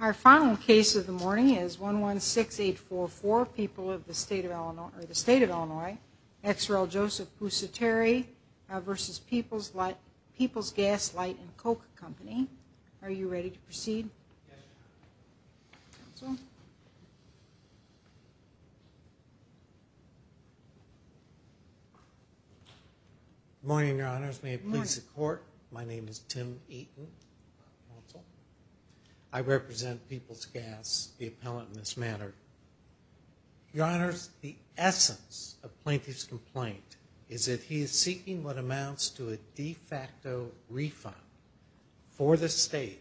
Our final case of the morning is 116844, People of the State of Illinois ex rel. Joseph Pusateri v. Peoples Gas Light & Coke Co. Are you ready to proceed? Good morning, your honors. May it please the court, my name is Tim Eaton. I represent Peoples Gas, the appellant in this matter. Your honors, the essence of plaintiff's complaint is that amounts to a de facto refund for the state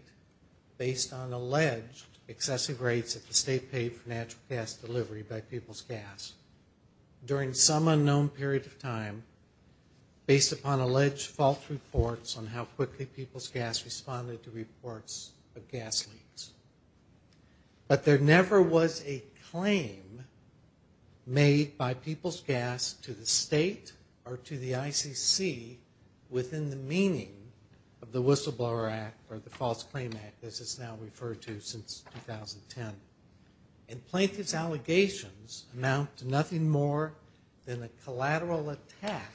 based on alleged excessive rates that the state paid for natural gas delivery by Peoples Gas during some unknown period of time based upon alleged false reports on how quickly Peoples Gas responded to reports of gas leaks. But there never was a claim made by Peoples Gas to the state or to the ICC within the meaning of the Whistleblower Act or the False Claim Act as it's now referred to since 2010. And plaintiff's allegations amount to nothing more than a collateral attack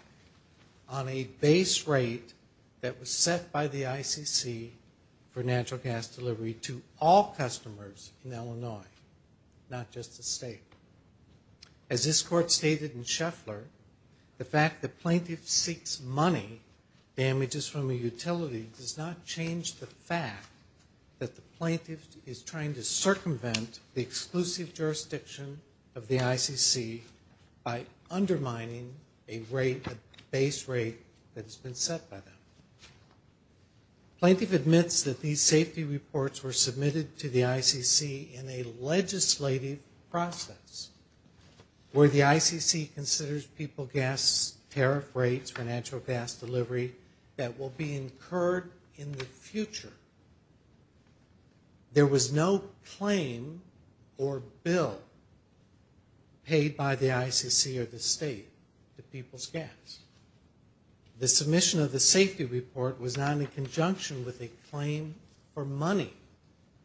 on a base rate that was set by the ICC for natural gas delivery to all customers in Illinois, not just the state. As this court stated in Scheffler, the fact that plaintiff seeks money, damages from a utility, does not change the fact that the plaintiff is trying to circumvent the exclusive jurisdiction of the ICC by undermining a rate, a base rate that has been set by them. Plaintiff admits that these safety reports were submitted to the ICC in a legislative process where the ICC considers Peoples Gas tariff rates for natural gas delivery that will be incurred in the future. There was no claim or bill paid by the ICC or the state to Peoples Gas. The submission of the safety report was not in conjunction with a claim for money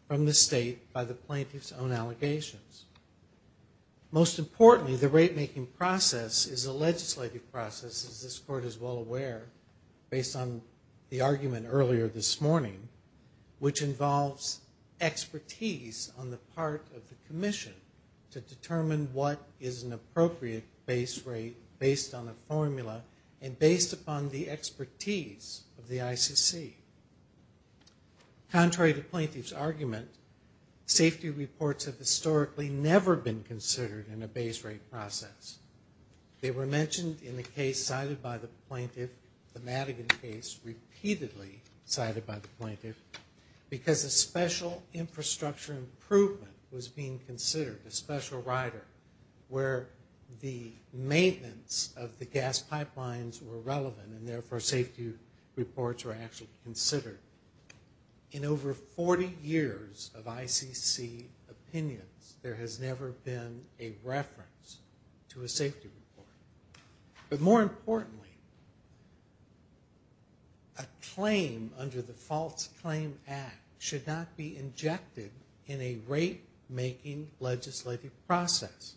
from the state by the plaintiff's own allegations. Most importantly, the rate making process is a legislative process as this court is well aware, based on the argument earlier this morning, which involves expertise on the part of the commission to determine what is an appropriate base rate based on a formula and based upon the expertise of the ICC. Contrary to plaintiff's argument, safety reports have historically never been considered in a base rate process. They were mentioned in the case cited by the plaintiff, the Madigan case repeatedly cited by the plaintiff, because a special infrastructure improvement was being considered, a special rider, where the maintenance of the gas pipelines were relevant and therefore safety reports were actually considered. In over 40 years of ICC opinions, there has never been a reference to a safety report. But more importantly, a claim under the False Claim Act should not be injected in a rate making legislative process,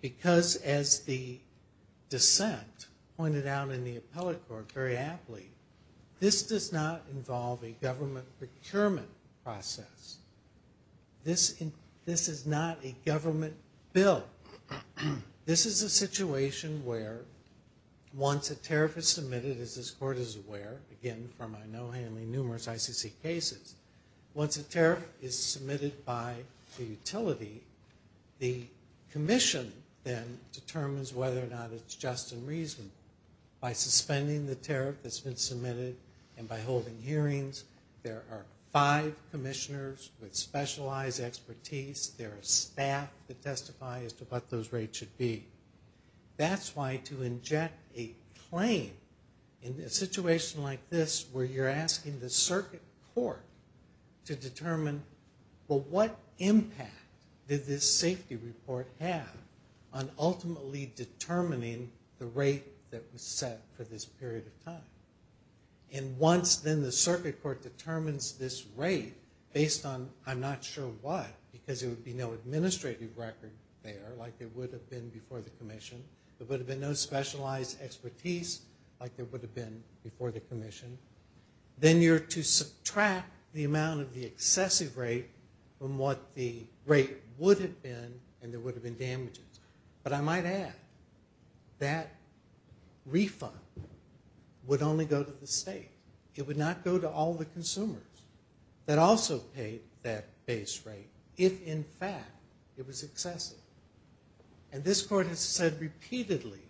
because as the dissent pointed out in the appellate court very aptly, this does not involve a government procurement process. This is not a government bill. This is a situation where once a tariff is submitted, as this court is aware, again from I know handling numerous ICC cases, once a tariff is submitted by the utility, the commission then determines whether or not it's just and reasonable. By suspending the tariff that's been submitted and by holding hearings, there are five commissioners with specialized expertise. There are staff that testify as to what those rates should be. That's why to inject a claim in a situation like this where you're asking the circuit court to determine, well, what impact did this safety report have on ultimately determining the rate that was set for this period of time? And once then the circuit court determines this rate based on I'm not sure what, because there would be no administrative record there like there would have been before the commission. There would have been no specialized expertise like there would have before the commission, then you're to subtract the amount of the excessive rate from what the rate would have been and there would have been damages. But I might add that refund would only go to the state. It would not go to all the consumers that also paid that base rate if in fact it was excessive. And this court has said repeatedly,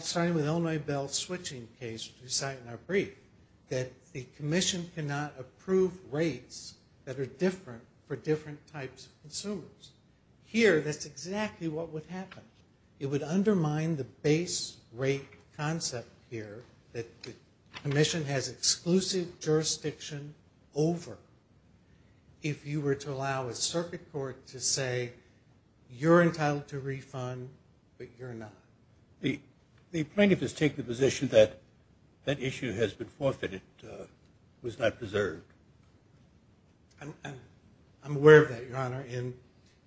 starting with Illinois Bell's switching case which we cite in our brief, that the commission cannot approve rates that are different for different types of consumers. Here that's exactly what would happen. It would undermine the base rate concept here that the commission has exclusive jurisdiction over. If you were to allow a circuit court to say you're entitled to a refund but you're not. The plaintiff has taken the position that that issue has been forfeited, was not preserved. I'm aware of that, Your Honor. And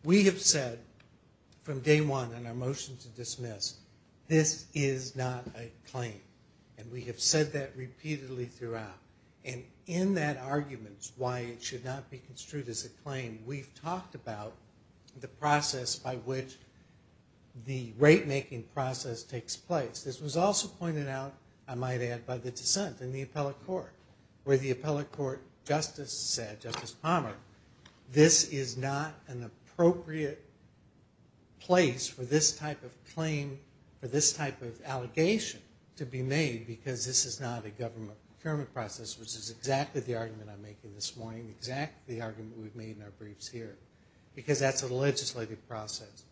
we have said from day one in our motion to dismiss, this is not a claim. And we have said that repeatedly throughout. And in that argument why it should not be construed as a claim, we've talked about the process by which the rate making process takes place. This was also pointed out, I might add, by the dissent in the appellate court where the appellate court justice said, Justice Palmer, this is not an appropriate place for this claim or this type of allegation to be made because this is not a government procurement process which is exactly the argument I'm making this morning, exactly the argument we've made in our briefs here. Because that's a legislative process.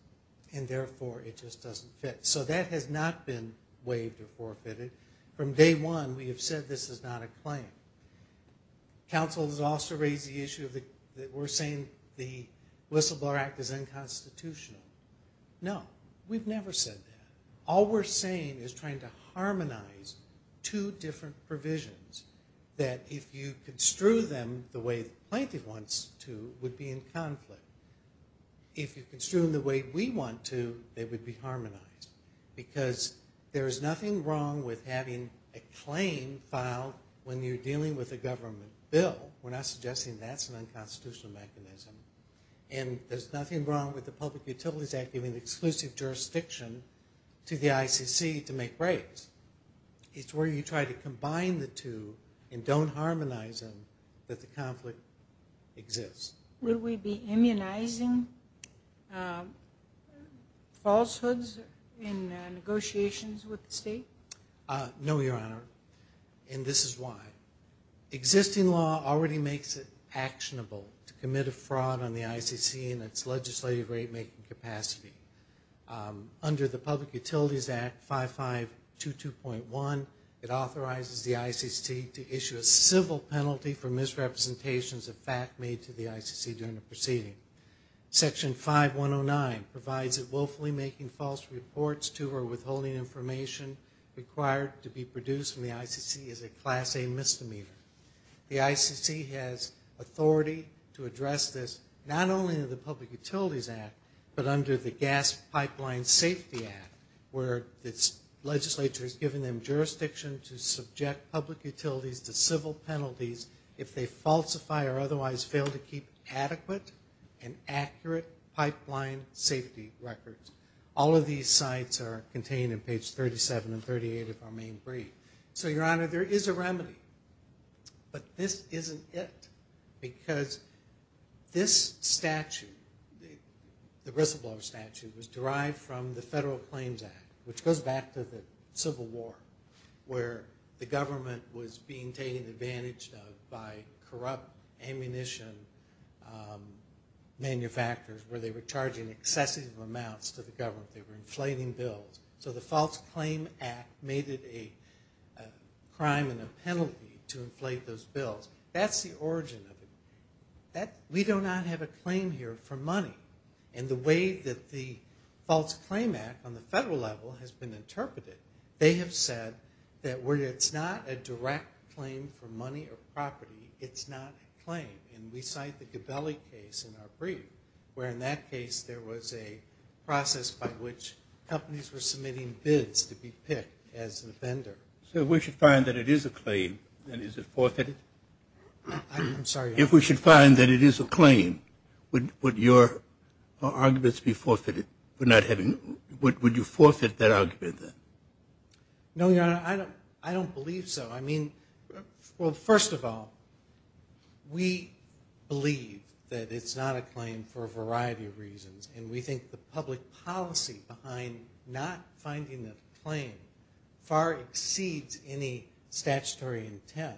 And therefore it just doesn't fit. So that has not been waived or forfeited. From day one we have said this is not a claim. Council has also raised the issue that we're saying the Whistleblower Act is unconstitutional. No. We've never said that. All we're saying is trying to harmonize two different provisions that if you construe them the way Plaintiff wants to, would be in conflict. If you construe them the way we want to, they would be harmonized. Because there is nothing wrong with having a claim filed when you're dealing with a government bill. We're not suggesting that's unconstitutional. And there's nothing wrong with the Public Utilities Act giving exclusive jurisdiction to the ICC to make rates. It's where you try to combine the two and don't harmonize them that the conflict exists. Would we be immunizing falsehoods in negotiations with the ICC? Under the Public Utilities Act 5522.1, it authorizes the ICC to issue a civil penalty for misrepresentations of fact made to the ICC during a proceeding. Section 5109 provides it willfully making false reports to or withholding information required to be produced from the ICC is a class A misdemeanor. The ICC has authority to address this not only in the Public Utilities Act but under the Gas Pipeline Safety Act where the legislature has given them jurisdiction to subject public utilities to civil penalties if they falsify or otherwise fail to keep adequate and accurate pipeline safety records. All of these sites are contained in page 37 and 38 of our main So, Your Honor, there is a remedy. But this isn't it. Because this statute, the whistleblower statute was derived from the Federal Claims Act which goes back to the Civil War where the government was being taken advantage of by corrupt ammunition manufacturers where they were charging excessive amounts to the government. They were inflating bills. So the False Claim Act made it a crime and a penalty to inflate those bills. That's the origin of it. We do not have a claim here for money. And the way that the False Claim Act on the federal level has been interpreted, they have said that where it's not a direct claim for money or property, it's not a claim. And we cite the process by which companies were submitting bids to be picked as the vendor. So if we should find that it is a claim, then is it forfeited? I'm sorry? If we should find that it is a claim, would your arguments be forfeited for not having, would you forfeit that argument then? No, Your Honor. I don't believe so. I mean, well, first of all, we believe that it's not a claim for a variety of reasons. And we think the public policy behind not finding a claim far exceeds any statutory intent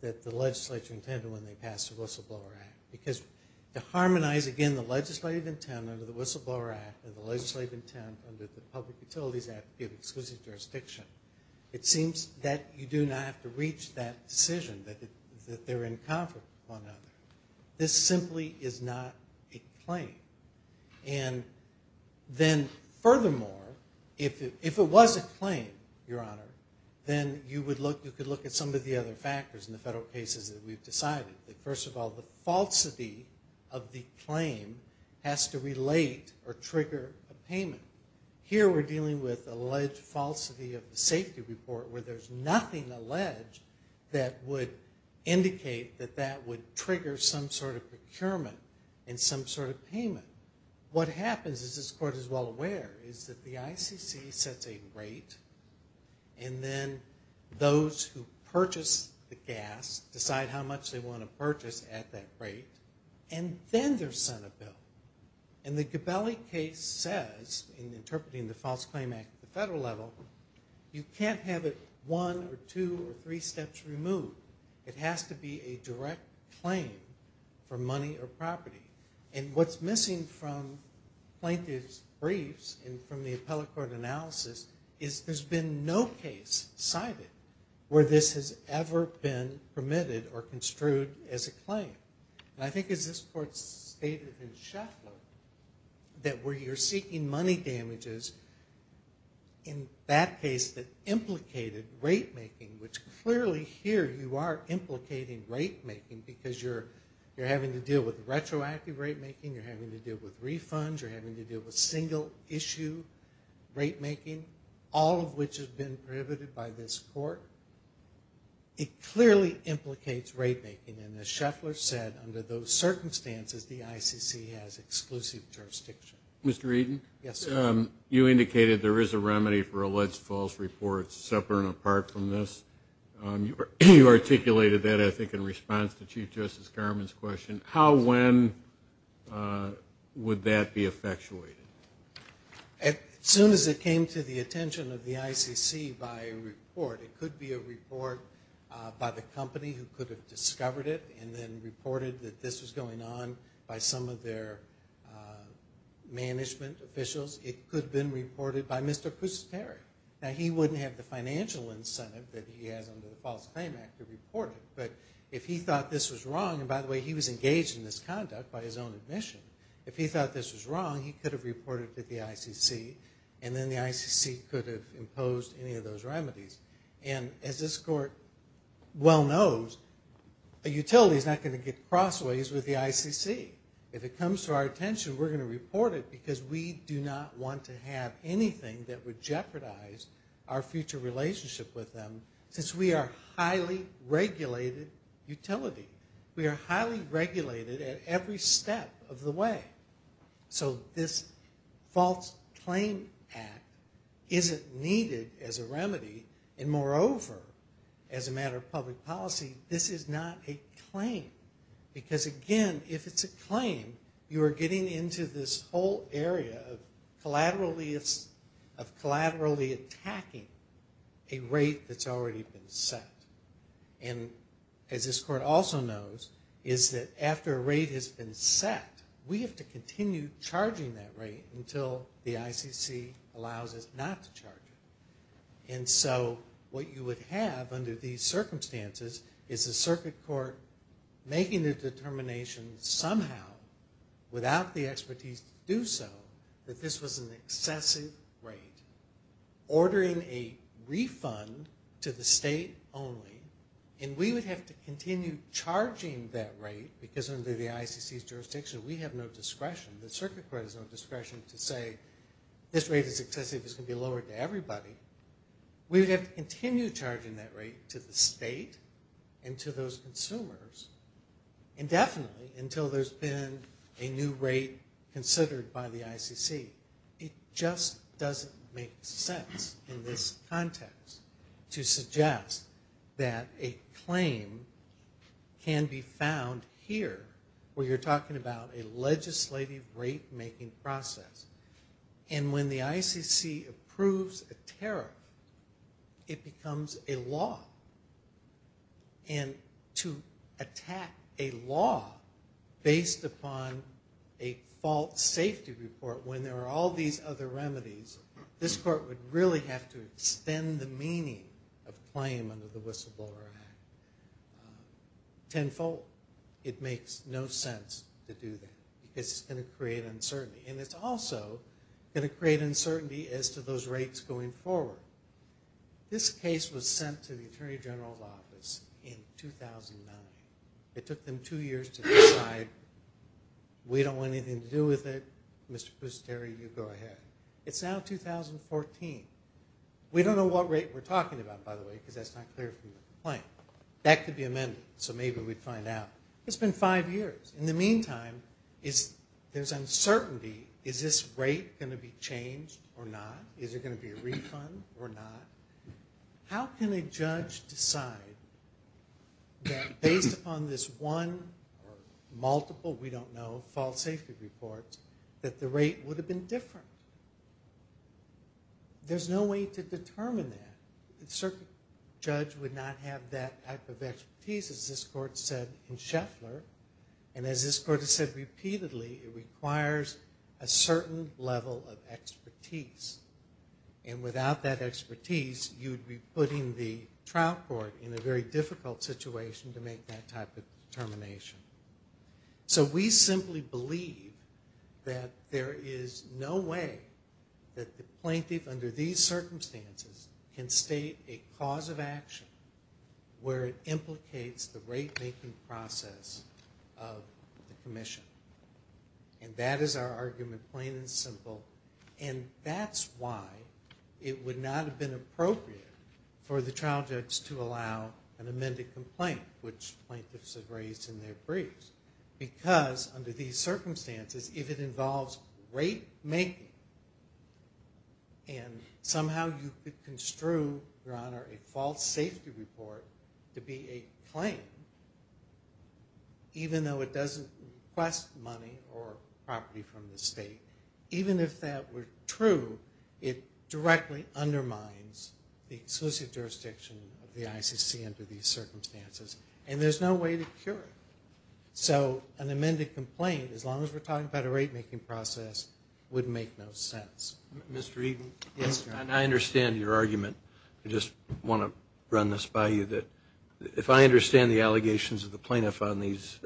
that the legislature intended when they passed the Whistleblower Act. Because to harmonize, again, the legislative intent under the Whistleblower Act and the legislative intent under the Public Utilities Act to give exclusive jurisdiction, it seems that you do not have to claim. And then furthermore, if it was a claim, Your Honor, then you could look at some of the other factors in the federal cases that we've decided. First of all, the falsity of the claim has to relate or trigger a payment. Here we're dealing with alleged falsity of the safety report where there's nothing alleged that would indicate that that would trigger some sort of procurement and some sort of payment. What happens, as this Court is well aware, is that the ICC sets a rate and then those who purchase the gas decide how much they want to purchase at that rate, and then they're sent a bill. And the Gabelli case says, in interpreting the False Claim Act at the federal level, you can't have it one or two or three steps removed. It has to be a direct claim for money or property. And what's missing from plaintiff's briefs and from the appellate court analysis is there's been no case cited where this has ever been permitted or construed as a claim. And I think as this Court stated in Sheffler, that where you're seeking money damages, in that case that implicated rate making, which clearly here you are implicating rate making because you're having to deal with retroactive rate making, you're having to deal with refunds, you're having to deal with single issue rate making, all of which has been prohibited by this Court, it clearly implicates rate making. And as Sheffler said, under those circumstances, the ICC has exclusive jurisdiction. Mr. Eden? Yes, sir. You indicated there is a remedy for alleged false reports separate and apart from this. You articulated that, I think, in response to Chief Justice Garmon's question. How, when would that be effectuated? As soon as it came to the attention of the ICC by a report, it could be a report by the company who could have discovered it and then reported that this was going on by some of their management officials. It could have been reported by Mr. Pusateri. Now, he wouldn't have the financial incentive that he has under the False Claim Act to report it, but if he thought this was wrong, and by the way, he was engaged in this conduct by his own admission, if he thought this was wrong, he could have reported to the ICC and then the ICC could have imposed any of those remedies. And as this Court well knows, a utility is not going to get crossways with the ICC. If it comes to our attention, we're going to report it because we do not want to have anything that would jeopardize our future relationship with them since we are a highly regulated utility. We are highly regulated at every step of the way. So this False Claim Act isn't needed as a remedy, and moreover, as a matter of public policy, this is not a claim. Because again, if it's a claim, you are getting into this whole area of collaterally attacking a rate that's already been set. And as this Court also knows, is that after a rate has been set, we have to continue charging that rate until the ICC allows us not to charge it. And so what you would have under these circumstances is the Circuit Court making a determination somehow, without the expertise to do so, that this was an excessive rate. Ordering a refund to the state only, and we would have to continue charging that rate, because under the ICC's jurisdiction we have no discretion, the Circuit Court has no discretion to say this rate is excessive, it's going to be lowered to everybody. We would have to continue charging that rate to the state and to those consumers indefinitely until there's been a new rate considered by the ICC. It just doesn't make sense in this context to suggest that a claim can be found here, where you're talking about a legislative rate-making process. And when the ICC approves a tariff, it becomes a law. And to attack a law based upon a fault safety report, when there are all these other remedies, this Court would really have to extend the meaning of claim under the Whistleblower Act tenfold. It makes no sense to do that, because it's going to create uncertainty. And it's also going to create uncertainty as to those rates going forward. This case was sent to the Attorney General's office in 2009. It took them two years to decide, we don't want anything to do with it, Mr. Pusteri, you go ahead. It's now 2014. We don't know what rate we're talking about, by the way, because that's not clear from the complaint. That could be amended, so maybe we'd find out. It's been five years. In the meantime, there's uncertainty. Is this rate going to be changed or not? Is there going to be a refund or not? How can a judge decide that based upon this one or multiple, we don't know, fault safety reports, that the rate would have been different? There's no way to determine that. A judge would not have that type of expertise, as this court said in Scheffler, and as this court has said repeatedly, it requires a certain level of expertise. And without that expertise, you'd be putting the trial court in a very difficult situation to make that type of determination. So we simply believe that there is no way that the plaintiff, under these circumstances, can state a cause of action where it implicates the rate-making process of the commission. And that is our argument, plain and simple. And that's why it would not have been appropriate for the trial judge to allow an amended complaint, which plaintiffs have raised in their briefs. Because under these circumstances, if it involves rate-making, and somehow you could construe, Your Honor, a false safety report to be a claim, even though it doesn't request money or property from the state, even if that were true, it directly undermines the exclusive jurisdiction of the ICC under these circumstances. And there's no way to cure it. So an amended complaint, as long as we're talking about a rate-making process, would make no sense. Mr. Eden? Yes, Your Honor. And I understand your argument. I just want to run this by you, that if I understand the allegations of the plaintiff on these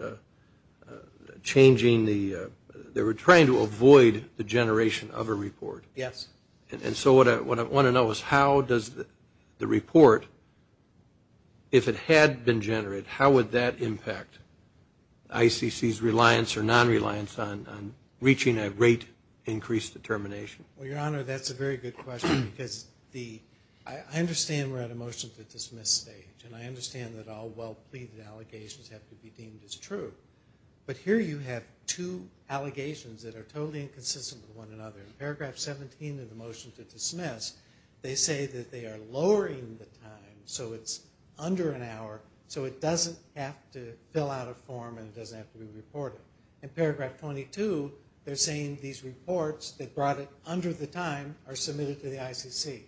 changing the, they were trying to avoid the generation of a report. Yes. And so what I want to know is how does the report, if it had been generated, how would that impact ICC's reliance or non-reliance on reaching a rate-increased determination? Well, Your Honor, that's a very good question. Because the, I understand we're at a motion to dismiss stage. And I understand that all well-pleaded allegations have to be deemed as true. But here you have two allegations that are totally inconsistent with one another. In paragraph 17 of the motion to dismiss, they say that they are lowering the time so it's under an hour, so it doesn't have to fill out a form and it doesn't have to be reported. In paragraph 22, they're saying these reports that brought it under the time are submitted to the ICC.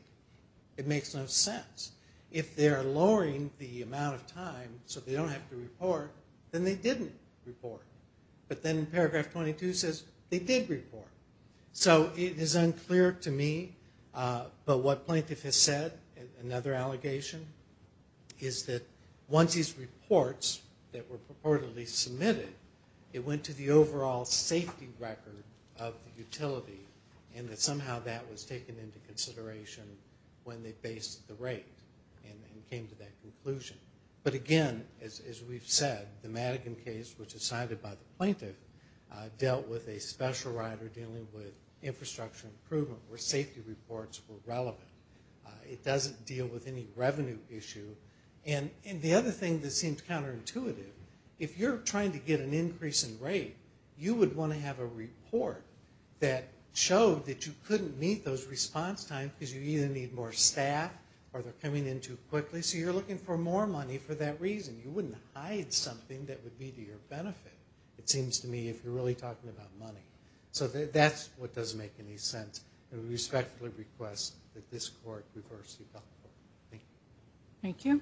It makes no sense. If they're lowering the amount of time so they don't have to report, then they didn't report. But then paragraph 22 says they did report. So it is unclear to me. But what plaintiff has said, another allegation, is that once these reports that were purportedly submitted, it went to the overall safety record of the utility and that somehow that was taken into consideration when they based the rate and came to that conclusion. But again, as we've said, the Madigan case, which is cited by the plaintiff, dealt with a special rider dealing with infrastructure improvement where safety reports were relevant. It doesn't deal with any revenue issue. And the other thing that seems counterintuitive, if you're trying to get an increase in rate, you would want to have a report that showed that you couldn't meet those response times because you either need more staff or they're coming in too quickly, so you're looking for more money for that reason. You wouldn't hide something that would be to your benefit, it seems to me, if you're really talking about money. So that's what doesn't make any sense. I respectfully request that this court reverse the bill. Thank you. Thank you.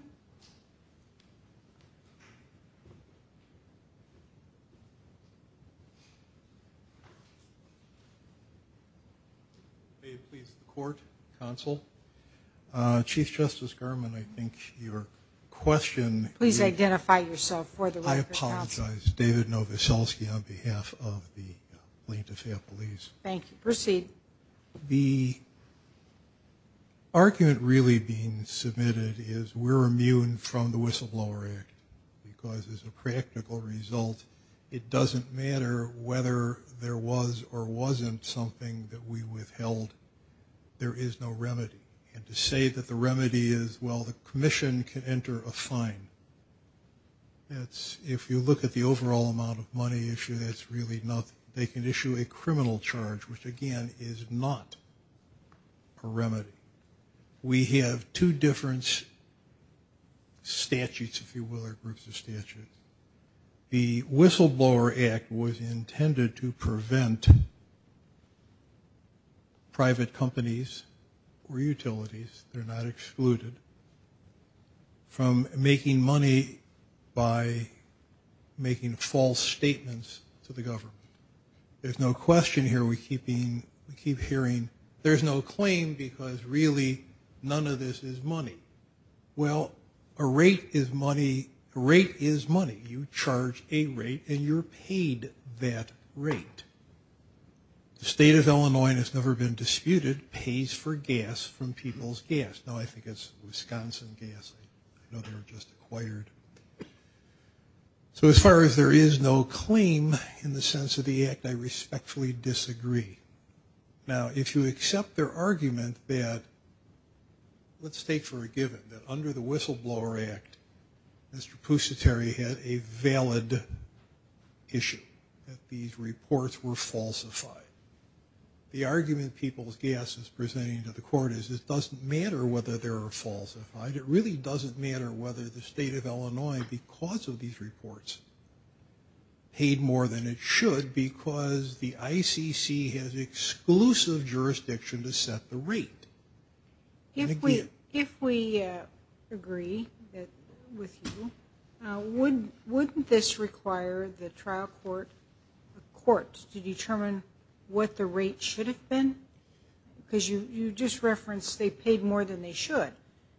May it please the court, counsel. Chief Justice Gurman, I think your question... I apologize. David Novoselsky on behalf of the plaintiff's families. Thank you. Proceed. The argument really being submitted is we're immune from the whistleblower act because as a practical result, it doesn't matter whether there was or wasn't something that we withheld, there is no remedy. And to say that the remedy is, well, the commission can enter a fine that's, if you look at the overall amount of money issue, that's really nothing. They can issue a criminal charge, which again is not a remedy. We have two different statutes, if you will, or groups of statutes. The whistleblower act was intended to prevent private companies or utilities, they're not excluded, from making money by making false statements to the government. There's no question here we keep hearing, there's no claim because really none of this is money. Well, a rate is money. A rate is money. You charge a rate and you're paid that rate. The state of Illinois has never been disputed pays for gas from people's gas. No, I think it's Wisconsin gas. I know they were just acquired. So as far as there is no claim in the sense of the act, I respectfully disagree. Now, if you accept their argument that, let's take for a given that under the whistleblower act, Mr. Pusatary had a valid issue, that these reports were falsified. The argument people's gas is presenting to the court is it doesn't matter whether they're falsified. It really doesn't matter whether the state of Illinois, because of these reports, paid more than it should because the ICC has exclusive jurisdiction to set the rate. If we agree with you, wouldn't this require the trial court to determine what the rate should have been? Because you just referenced they paid more than they should.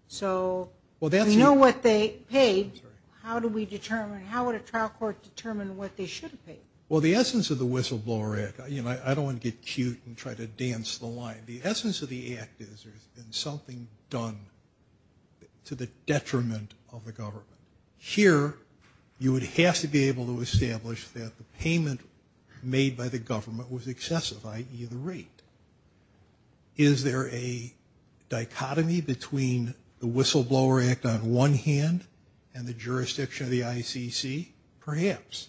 So we know what they paid, how do we determine, how would a trial court determine what they should have paid? Well, the essence of the whistleblower act, you know, I don't want to get cute and try to dance the line. The essence of the act is there's been something done to the detriment of the government. Here, you would have to be able to establish that the payment made by the government was excessive, i.e. the rate. Is there a dichotomy between the whistleblower act on one hand and the jurisdiction of the ICC? Perhaps.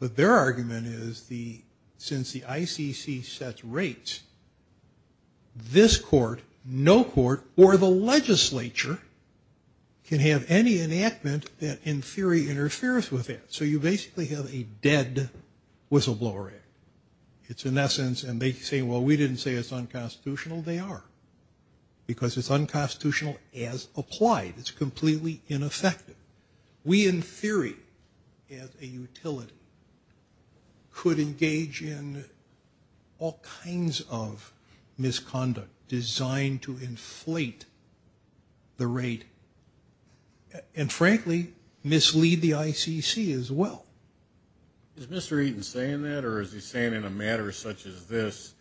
But their argument is, since the ICC sets rates, this court, no court, or the legislature can have any enactment that in theory interferes with it. So you basically have a dead whistleblower act. It's in essence, and they say, well, we didn't say it's unconstitutional. They are. Because it's unconstitutional as applied. It's completely ineffective. We in theory, as a utility, could engage in all kinds of misconduct designed to inflate the rate, and frankly, mislead the ICC as well. Is Mr. Eaton saying that, or is he saying in a matter such as this,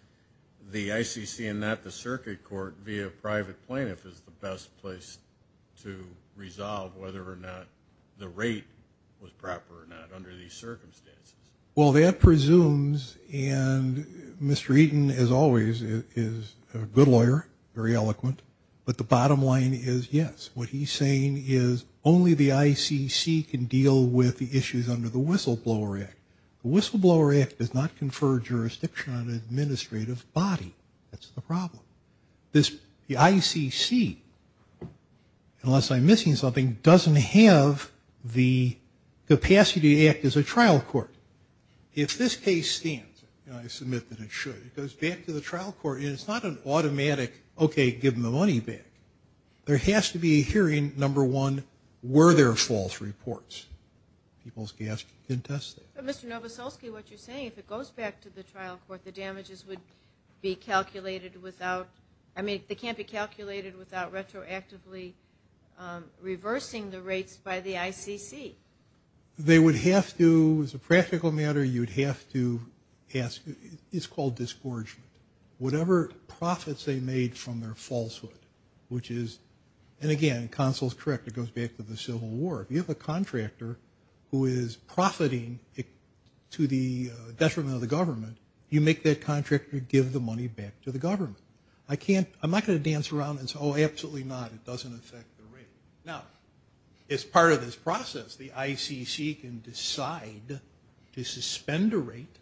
the ICC and not the circuit court via private plaintiff is the best place to resolve whether or not the rate was proper or not under these circumstances? Well, that presumes, and Mr. Eaton, as always, is a good lawyer, very eloquent, but the bottom line is yes. What he's saying is only the ICC can deal with the issues under the whistleblower act. The whistleblower act does not confer jurisdiction on an administrative body. That's the problem. The ICC, unless I'm missing something, doesn't have the capacity to act as a trial court. If this case stands, and I submit that it should, it goes back to the trial court, and it's not an automatic, okay, give them the money back. There has to be a hearing, number one, were there false reports? People's gas didn't test it. Mr. Novoselsky, what you're saying, if it goes back to the trial court, the damages would be calculated without, I mean, they can't be calculated without retroactively reversing the rates by the ICC. They would have to, as a practical matter, you'd have to ask, it's called disgorgement, whatever profits they made from their falsehood, which is, and again, Consul's correct, it goes back to the Civil War. If you have a contractor who is profiting to the detriment of the government, you make that contractor give the money back to the government. I can't, I'm not going to dance around and say, oh, absolutely not, it doesn't affect the rate. Now, as part of this process, the ICC can decide to suspend a rate,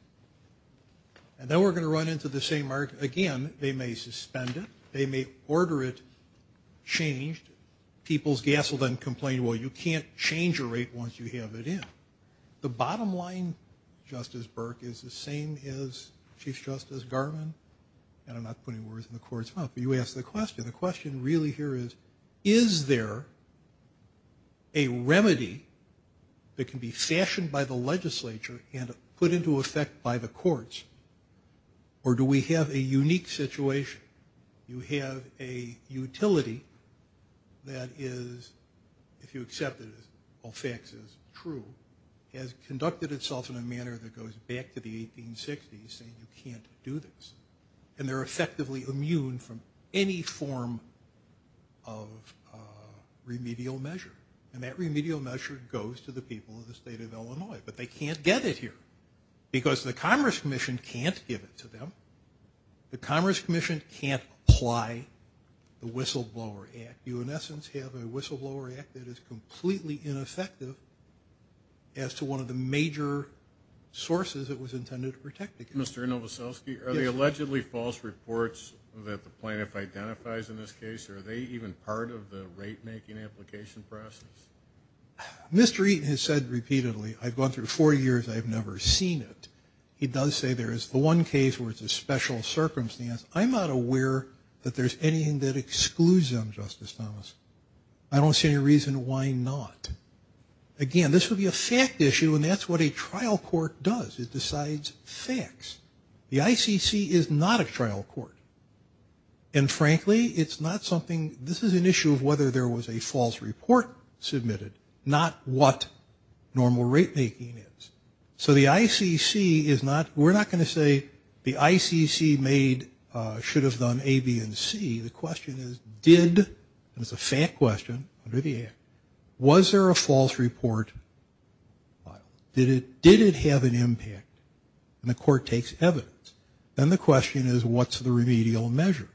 and then we're going to run into the same argument again, they may suspend it, they may order it changed. People's gas will then complain, well, you can't change a rate once you have it in. The bottom line, Justice Burke, is the same as Chief Justice Garvin, and I'm not putting words in the court's mouth, but you asked the question. The question really here is, is there a remedy that can be fashioned by the legislature and put into effect by the utility that is, if you accept it as all facts is true, has conducted itself in a manner that goes back to the 1860s, saying you can't do this. And they're effectively immune from any form of remedial measure. And that remedial measure goes to the people of the state of Illinois, but they can't get it here, because the Commerce Commission can't give it to them. The Commerce Commission can't apply the Whistleblower Act. You, in essence, have a Whistleblower Act that is completely ineffective as to one of the major sources that was intended to protect the gas. Mr. Novoselsky, are the allegedly false reports that the plaintiff identifies in this case, are they even part of the rate making application process? Mr. Eaton has said repeatedly, I've gone through four years, I've never seen it. He does say there is the one case where it's a special circumstance. I'm not aware that there's anything that excludes them, Justice Thomas. I don't see any reason why not. Again, this would be a fact issue, and that's what a trial court does. It decides facts. The ICC is not a trial court. And frankly, it's not something, this is an issue of whether there was a false report submitted, not what normal rate making is. So the ICC is not, we're not going to say the ICC made, should have done A, B, and C. The question is, did, and it's a fact question under the Act, was there a false report filed? Did it have an impact? And the court takes evidence. Then the question is, what's the remedial measure?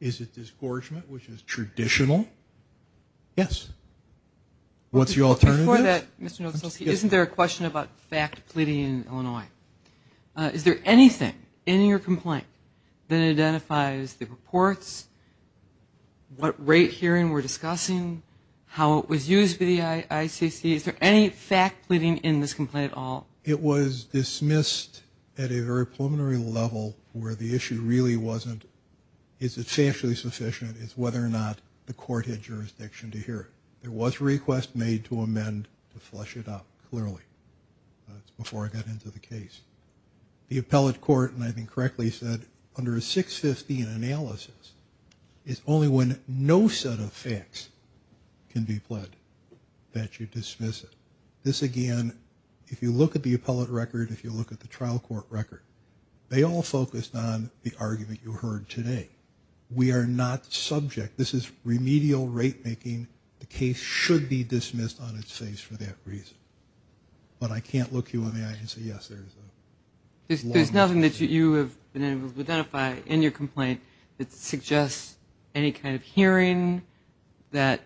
Is it disgorgement, which is traditional? Yes. What's the alternative? Before that, Mr. Novoselic, isn't there a question about fact pleading in Illinois? Is there anything in your complaint that identifies the reports, what rate hearing we're discussing, how it was used by the ICC? Is there any fact pleading in this complaint at all? It was dismissed at a very preliminary level where the issue really wasn't, is it factually sufficient, it's whether or not the court had jurisdiction to hear it. There was a request made to amend to flush it out clearly. That's before I got into the case. The appellate court, and I think correctly said, under a 615 analysis is only when no set of facts can be pledged that you dismiss it. This again, if you look at the appellate record, if you look at the trial court record, they all focused on the argument you heard today. We are not subject. This is remedial rate making. The case should be dismissed on its face for that reason. But I can't look you in the eye and say, yes, there is a long list of facts. There's nothing that you have been able to identify in your complaint that suggests any kind of hearing, that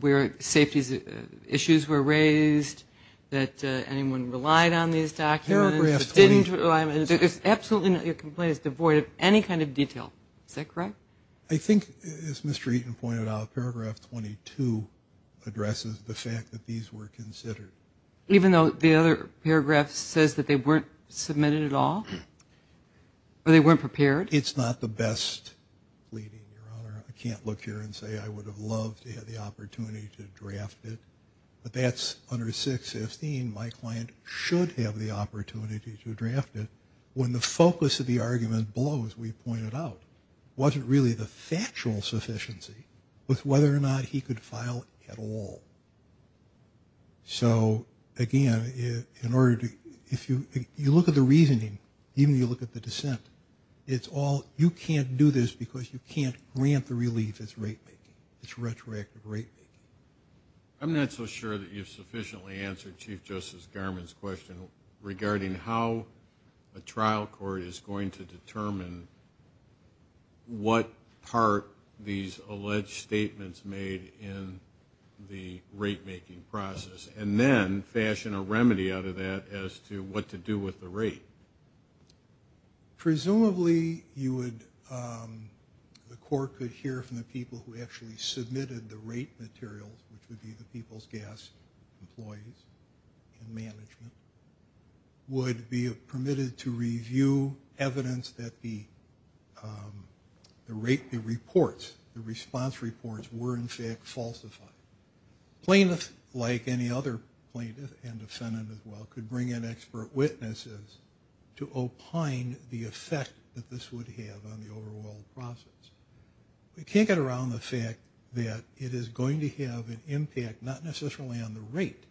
where safety issues were raised, that anyone relied on these documents. Paragraph 20. Absolutely not. Your complaint is devoid of any kind of detail. Is that correct? I think, as Mr. Eaton pointed out, paragraph 22 addresses the fact that these were considered. Even though the other paragraph says that they weren't submitted at all? Or they weren't prepared? It's not the best reading, Your Honor. I can't look here and say I would have loved to have the opportunity to draft it. But that's under 615. My client should have the opportunity to draft it when the focus of the argument below, as we pointed out, wasn't really the factual sufficiency with whether or not he could file at all. So again, in order to, if you look at the reasoning, even if you look at the dissent, it's all, you can't do this because you can't grant the relief it's rate making, it's retroactive rate making. I'm not so sure that you've sufficiently answered Chief Justice Garmon's question regarding how a trial court is going to determine what part these alleged statements made in the rate making process, and then fashion a remedy out of that as to what to do with the rate. Presumably you would, the court could hear from the people who actually submitted the rate materials, which would be the people's gas employees and management, would be permitted to review evidence that the rate, the reports, the response reports were in fact falsified. Plaintiffs, like any other plaintiff and defendant as well, could bring in expert witnesses to opine the effect that this would have on the overall process. We can't get around the fact that it is going to have an impact, not necessarily on the rate,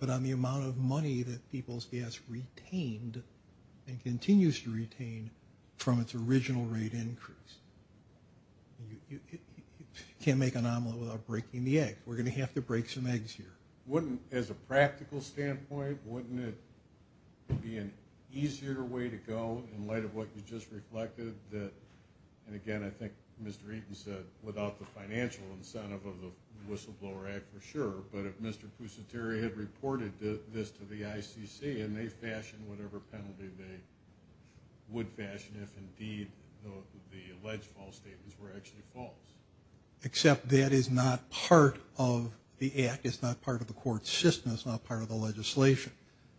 but on the amount of money that people's gas retained and continues to retain from its rate increase. You can't make an omelet without breaking the egg. We're going to have to break some eggs here. Wouldn't, as a practical standpoint, wouldn't it be an easier way to go in light of what you just reflected that, and again I think Mr. Eaton said, without the financial incentive of the Whistleblower Act for sure, but if Mr. Pusateri had reported this to the ICC and they fashioned whatever penalty they would fashion if indeed the alleged false statements were actually false. Except that is not part of the act, it's not part of the court system, it's not part of the legislation.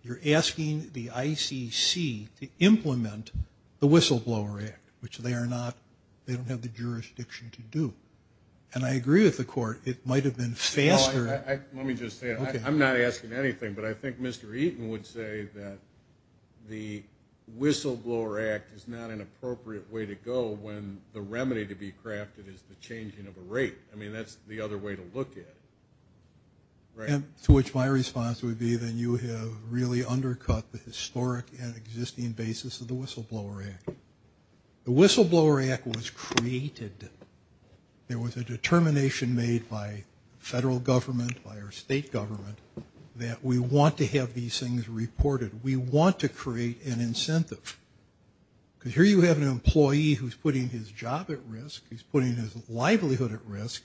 You're asking the ICC to implement the Whistleblower Act, which they are not, they don't have the jurisdiction to do. And I agree with the court, it might have been Let me just say, I'm not asking anything, but I think Mr. Eaton would say that the Whistleblower Act is not an appropriate way to go when the remedy to be crafted is the changing of a rate. I mean that's the other way to look at it. To which my response would be that you have really undercut the historic and existing basis of the Whistleblower Act. The Whistleblower Act was created, there was a determination made by federal government, by our state government, that we want to have these things reported, we want to create an incentive. Because here you have an employee who's putting his job at risk, he's putting his livelihood at risk,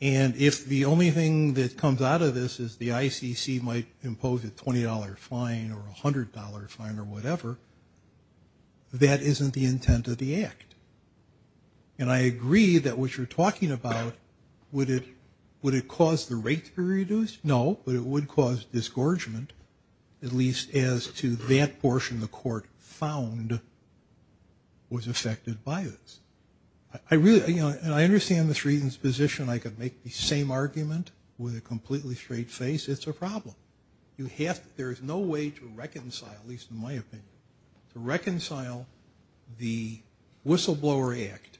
and if the only thing that comes out of this is the ICC might impose a $20 fine or a $100 fine or whatever, that isn't the intent of the act. And I agree that what you're talking about, would it cause the rate to be reduced? No, but it would cause disgorgement, at least as to that portion the court found was affected by this. I really, you know, and I understand Mr. Eaton's position, I could make the same argument with a completely straight face, it's a problem. You have to, there is no way to reconcile, at least in my opinion, to reconcile the Whistleblower Act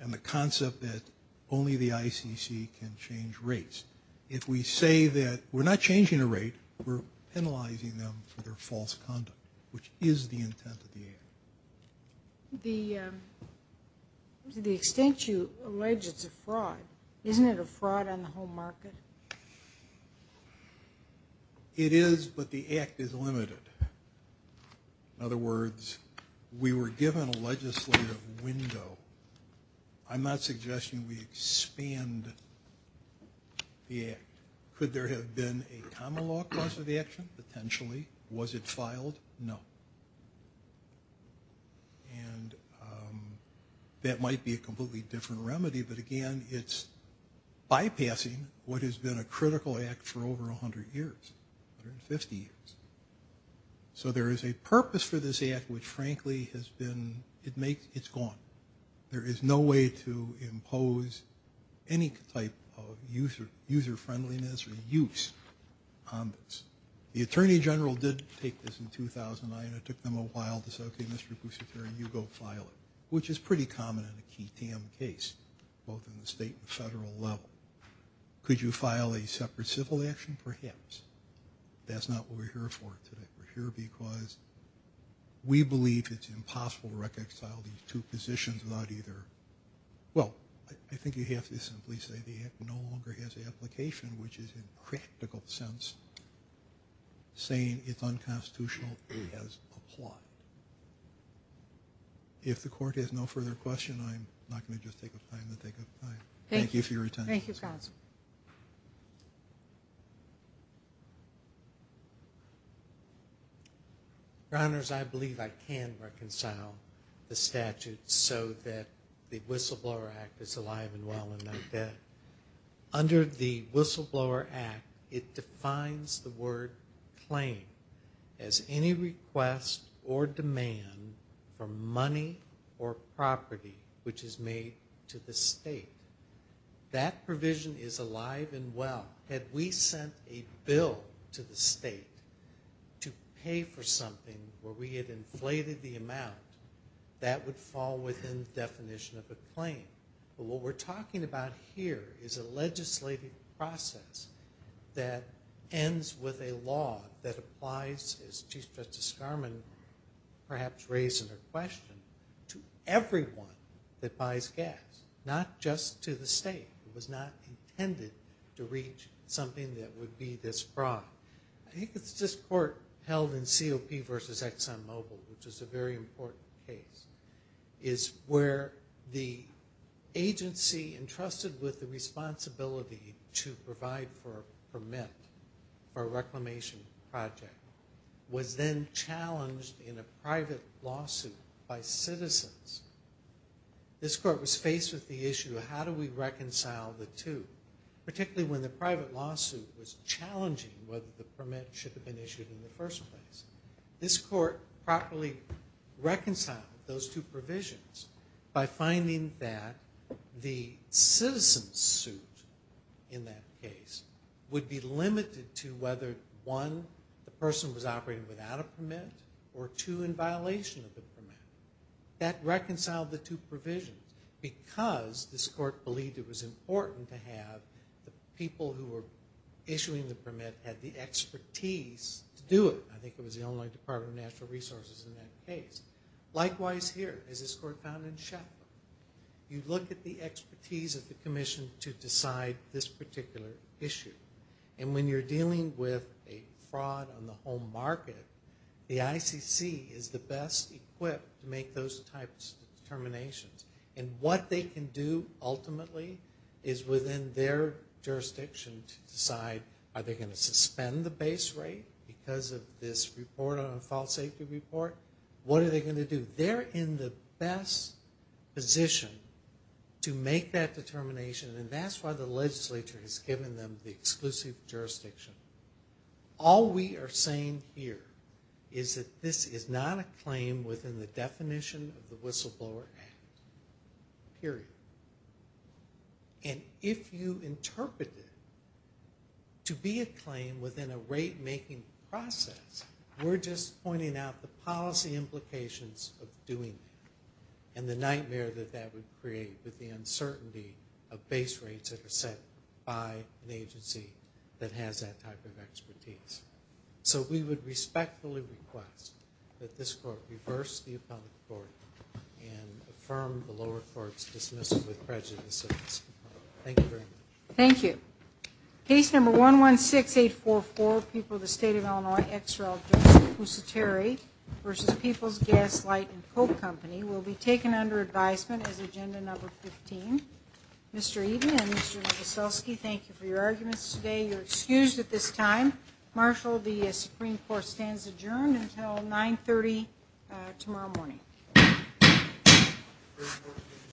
and the concept that only the ICC can change rates. If we say that we're not changing a rate, we're penalizing them for their false conduct, which is the intent of the act. The extent you allege it's a fraud, isn't it a fraud on the home market? It is, but the act is limited. In other words, we were given a legislative window. I'm not suggesting we expand the act. Could there have been a common law cause of the action? Potentially. Was it filed? No. And that might be a completely different remedy, but again, it's bypassing what has been a critical act for over a hundred years, 150 years. So there is a purpose for this act, which frankly has been, it makes, it's gone. There is no way to impose any type of user user-friendliness or use on this. The Attorney General did take this in 2009 and it took them a while to say, okay, Mr. Boussiteri, you go file it, which is pretty common in a key TAM case, both in the state and federal level. Could you file a separate civil action? Perhaps. That's not what we're here for today. We're here because we believe it's impossible to reconcile these two positions without either, well, I think you have to simply say the act no longer has an application, which is in practical sense saying it's unconstitutional, it has a plot. If the court has no further question, I'm not going to just take a time to take a time. Thank you for your attention. Thank you, counsel. Your Honors, I believe I can reconcile the statute so that the Whistleblower Act is alive and well and that under the Whistleblower Act, it defines the word claim as any request or demand for money or property which is made to the state. That provision is alive and well. Had we sent a bill to the state to pay for something where we had inflated the amount, that would fall within the state. What we're talking about here is a legislative process that ends with a law that applies, as Chief Justice Garmon perhaps raised in her question, to everyone that buys gas, not just to the state. It was not intended to reach something that would be this broad. I think it's this court held in COP versus Exxon Mobil, which is a very important case, is where the agency entrusted with the responsibility to provide for a permit for a reclamation project was then challenged in a private lawsuit by citizens. This court was faced with the issue of how do we reconcile the two, particularly when the private lawsuit was challenging whether the permit should have been issued in the first place. This court properly reconciled those two provisions by finding that the citizen's suit in that case would be limited to whether, one, the person was operating without a permit or, two, in violation of the permit. That reconciled the two provisions because this court believed it was important to have the people who were issuing the permit had the expertise to do it. I think it was the only Department of Natural Resources in that case. Likewise here, as this court found in Shetland, you look at the expertise of the commission to decide this particular issue. And when you're dealing with a fraud on the home market, the ICC is the best equipped to make those types of determinations. And what they can do ultimately is within their because of this report on a fault safety report, what are they going to do? They're in the best position to make that determination. And that's why the legislature has given them the exclusive jurisdiction. All we are saying here is that this is not a claim within the definition of making the process. We're just pointing out the policy implications of doing it. And the nightmare that that would create with the uncertainty of base rates that are set by an agency that has that type of expertise. So we would respectfully request that this court reverse the appellate court and affirm the lower court's dismissal with prejudices. Thank you very much. Thank you. Case number 116844, People of the State of Illinois, XRL, Joseph Pusateri versus People's Gas, Light, and Coke Company will be taken under advisement as agenda number 15. Mr. Eden and Mr. Wieselski, thank you for your arguments today. You're excused at this time. Marshal, the Supreme Court stands adjourned until 9 30 tomorrow morning.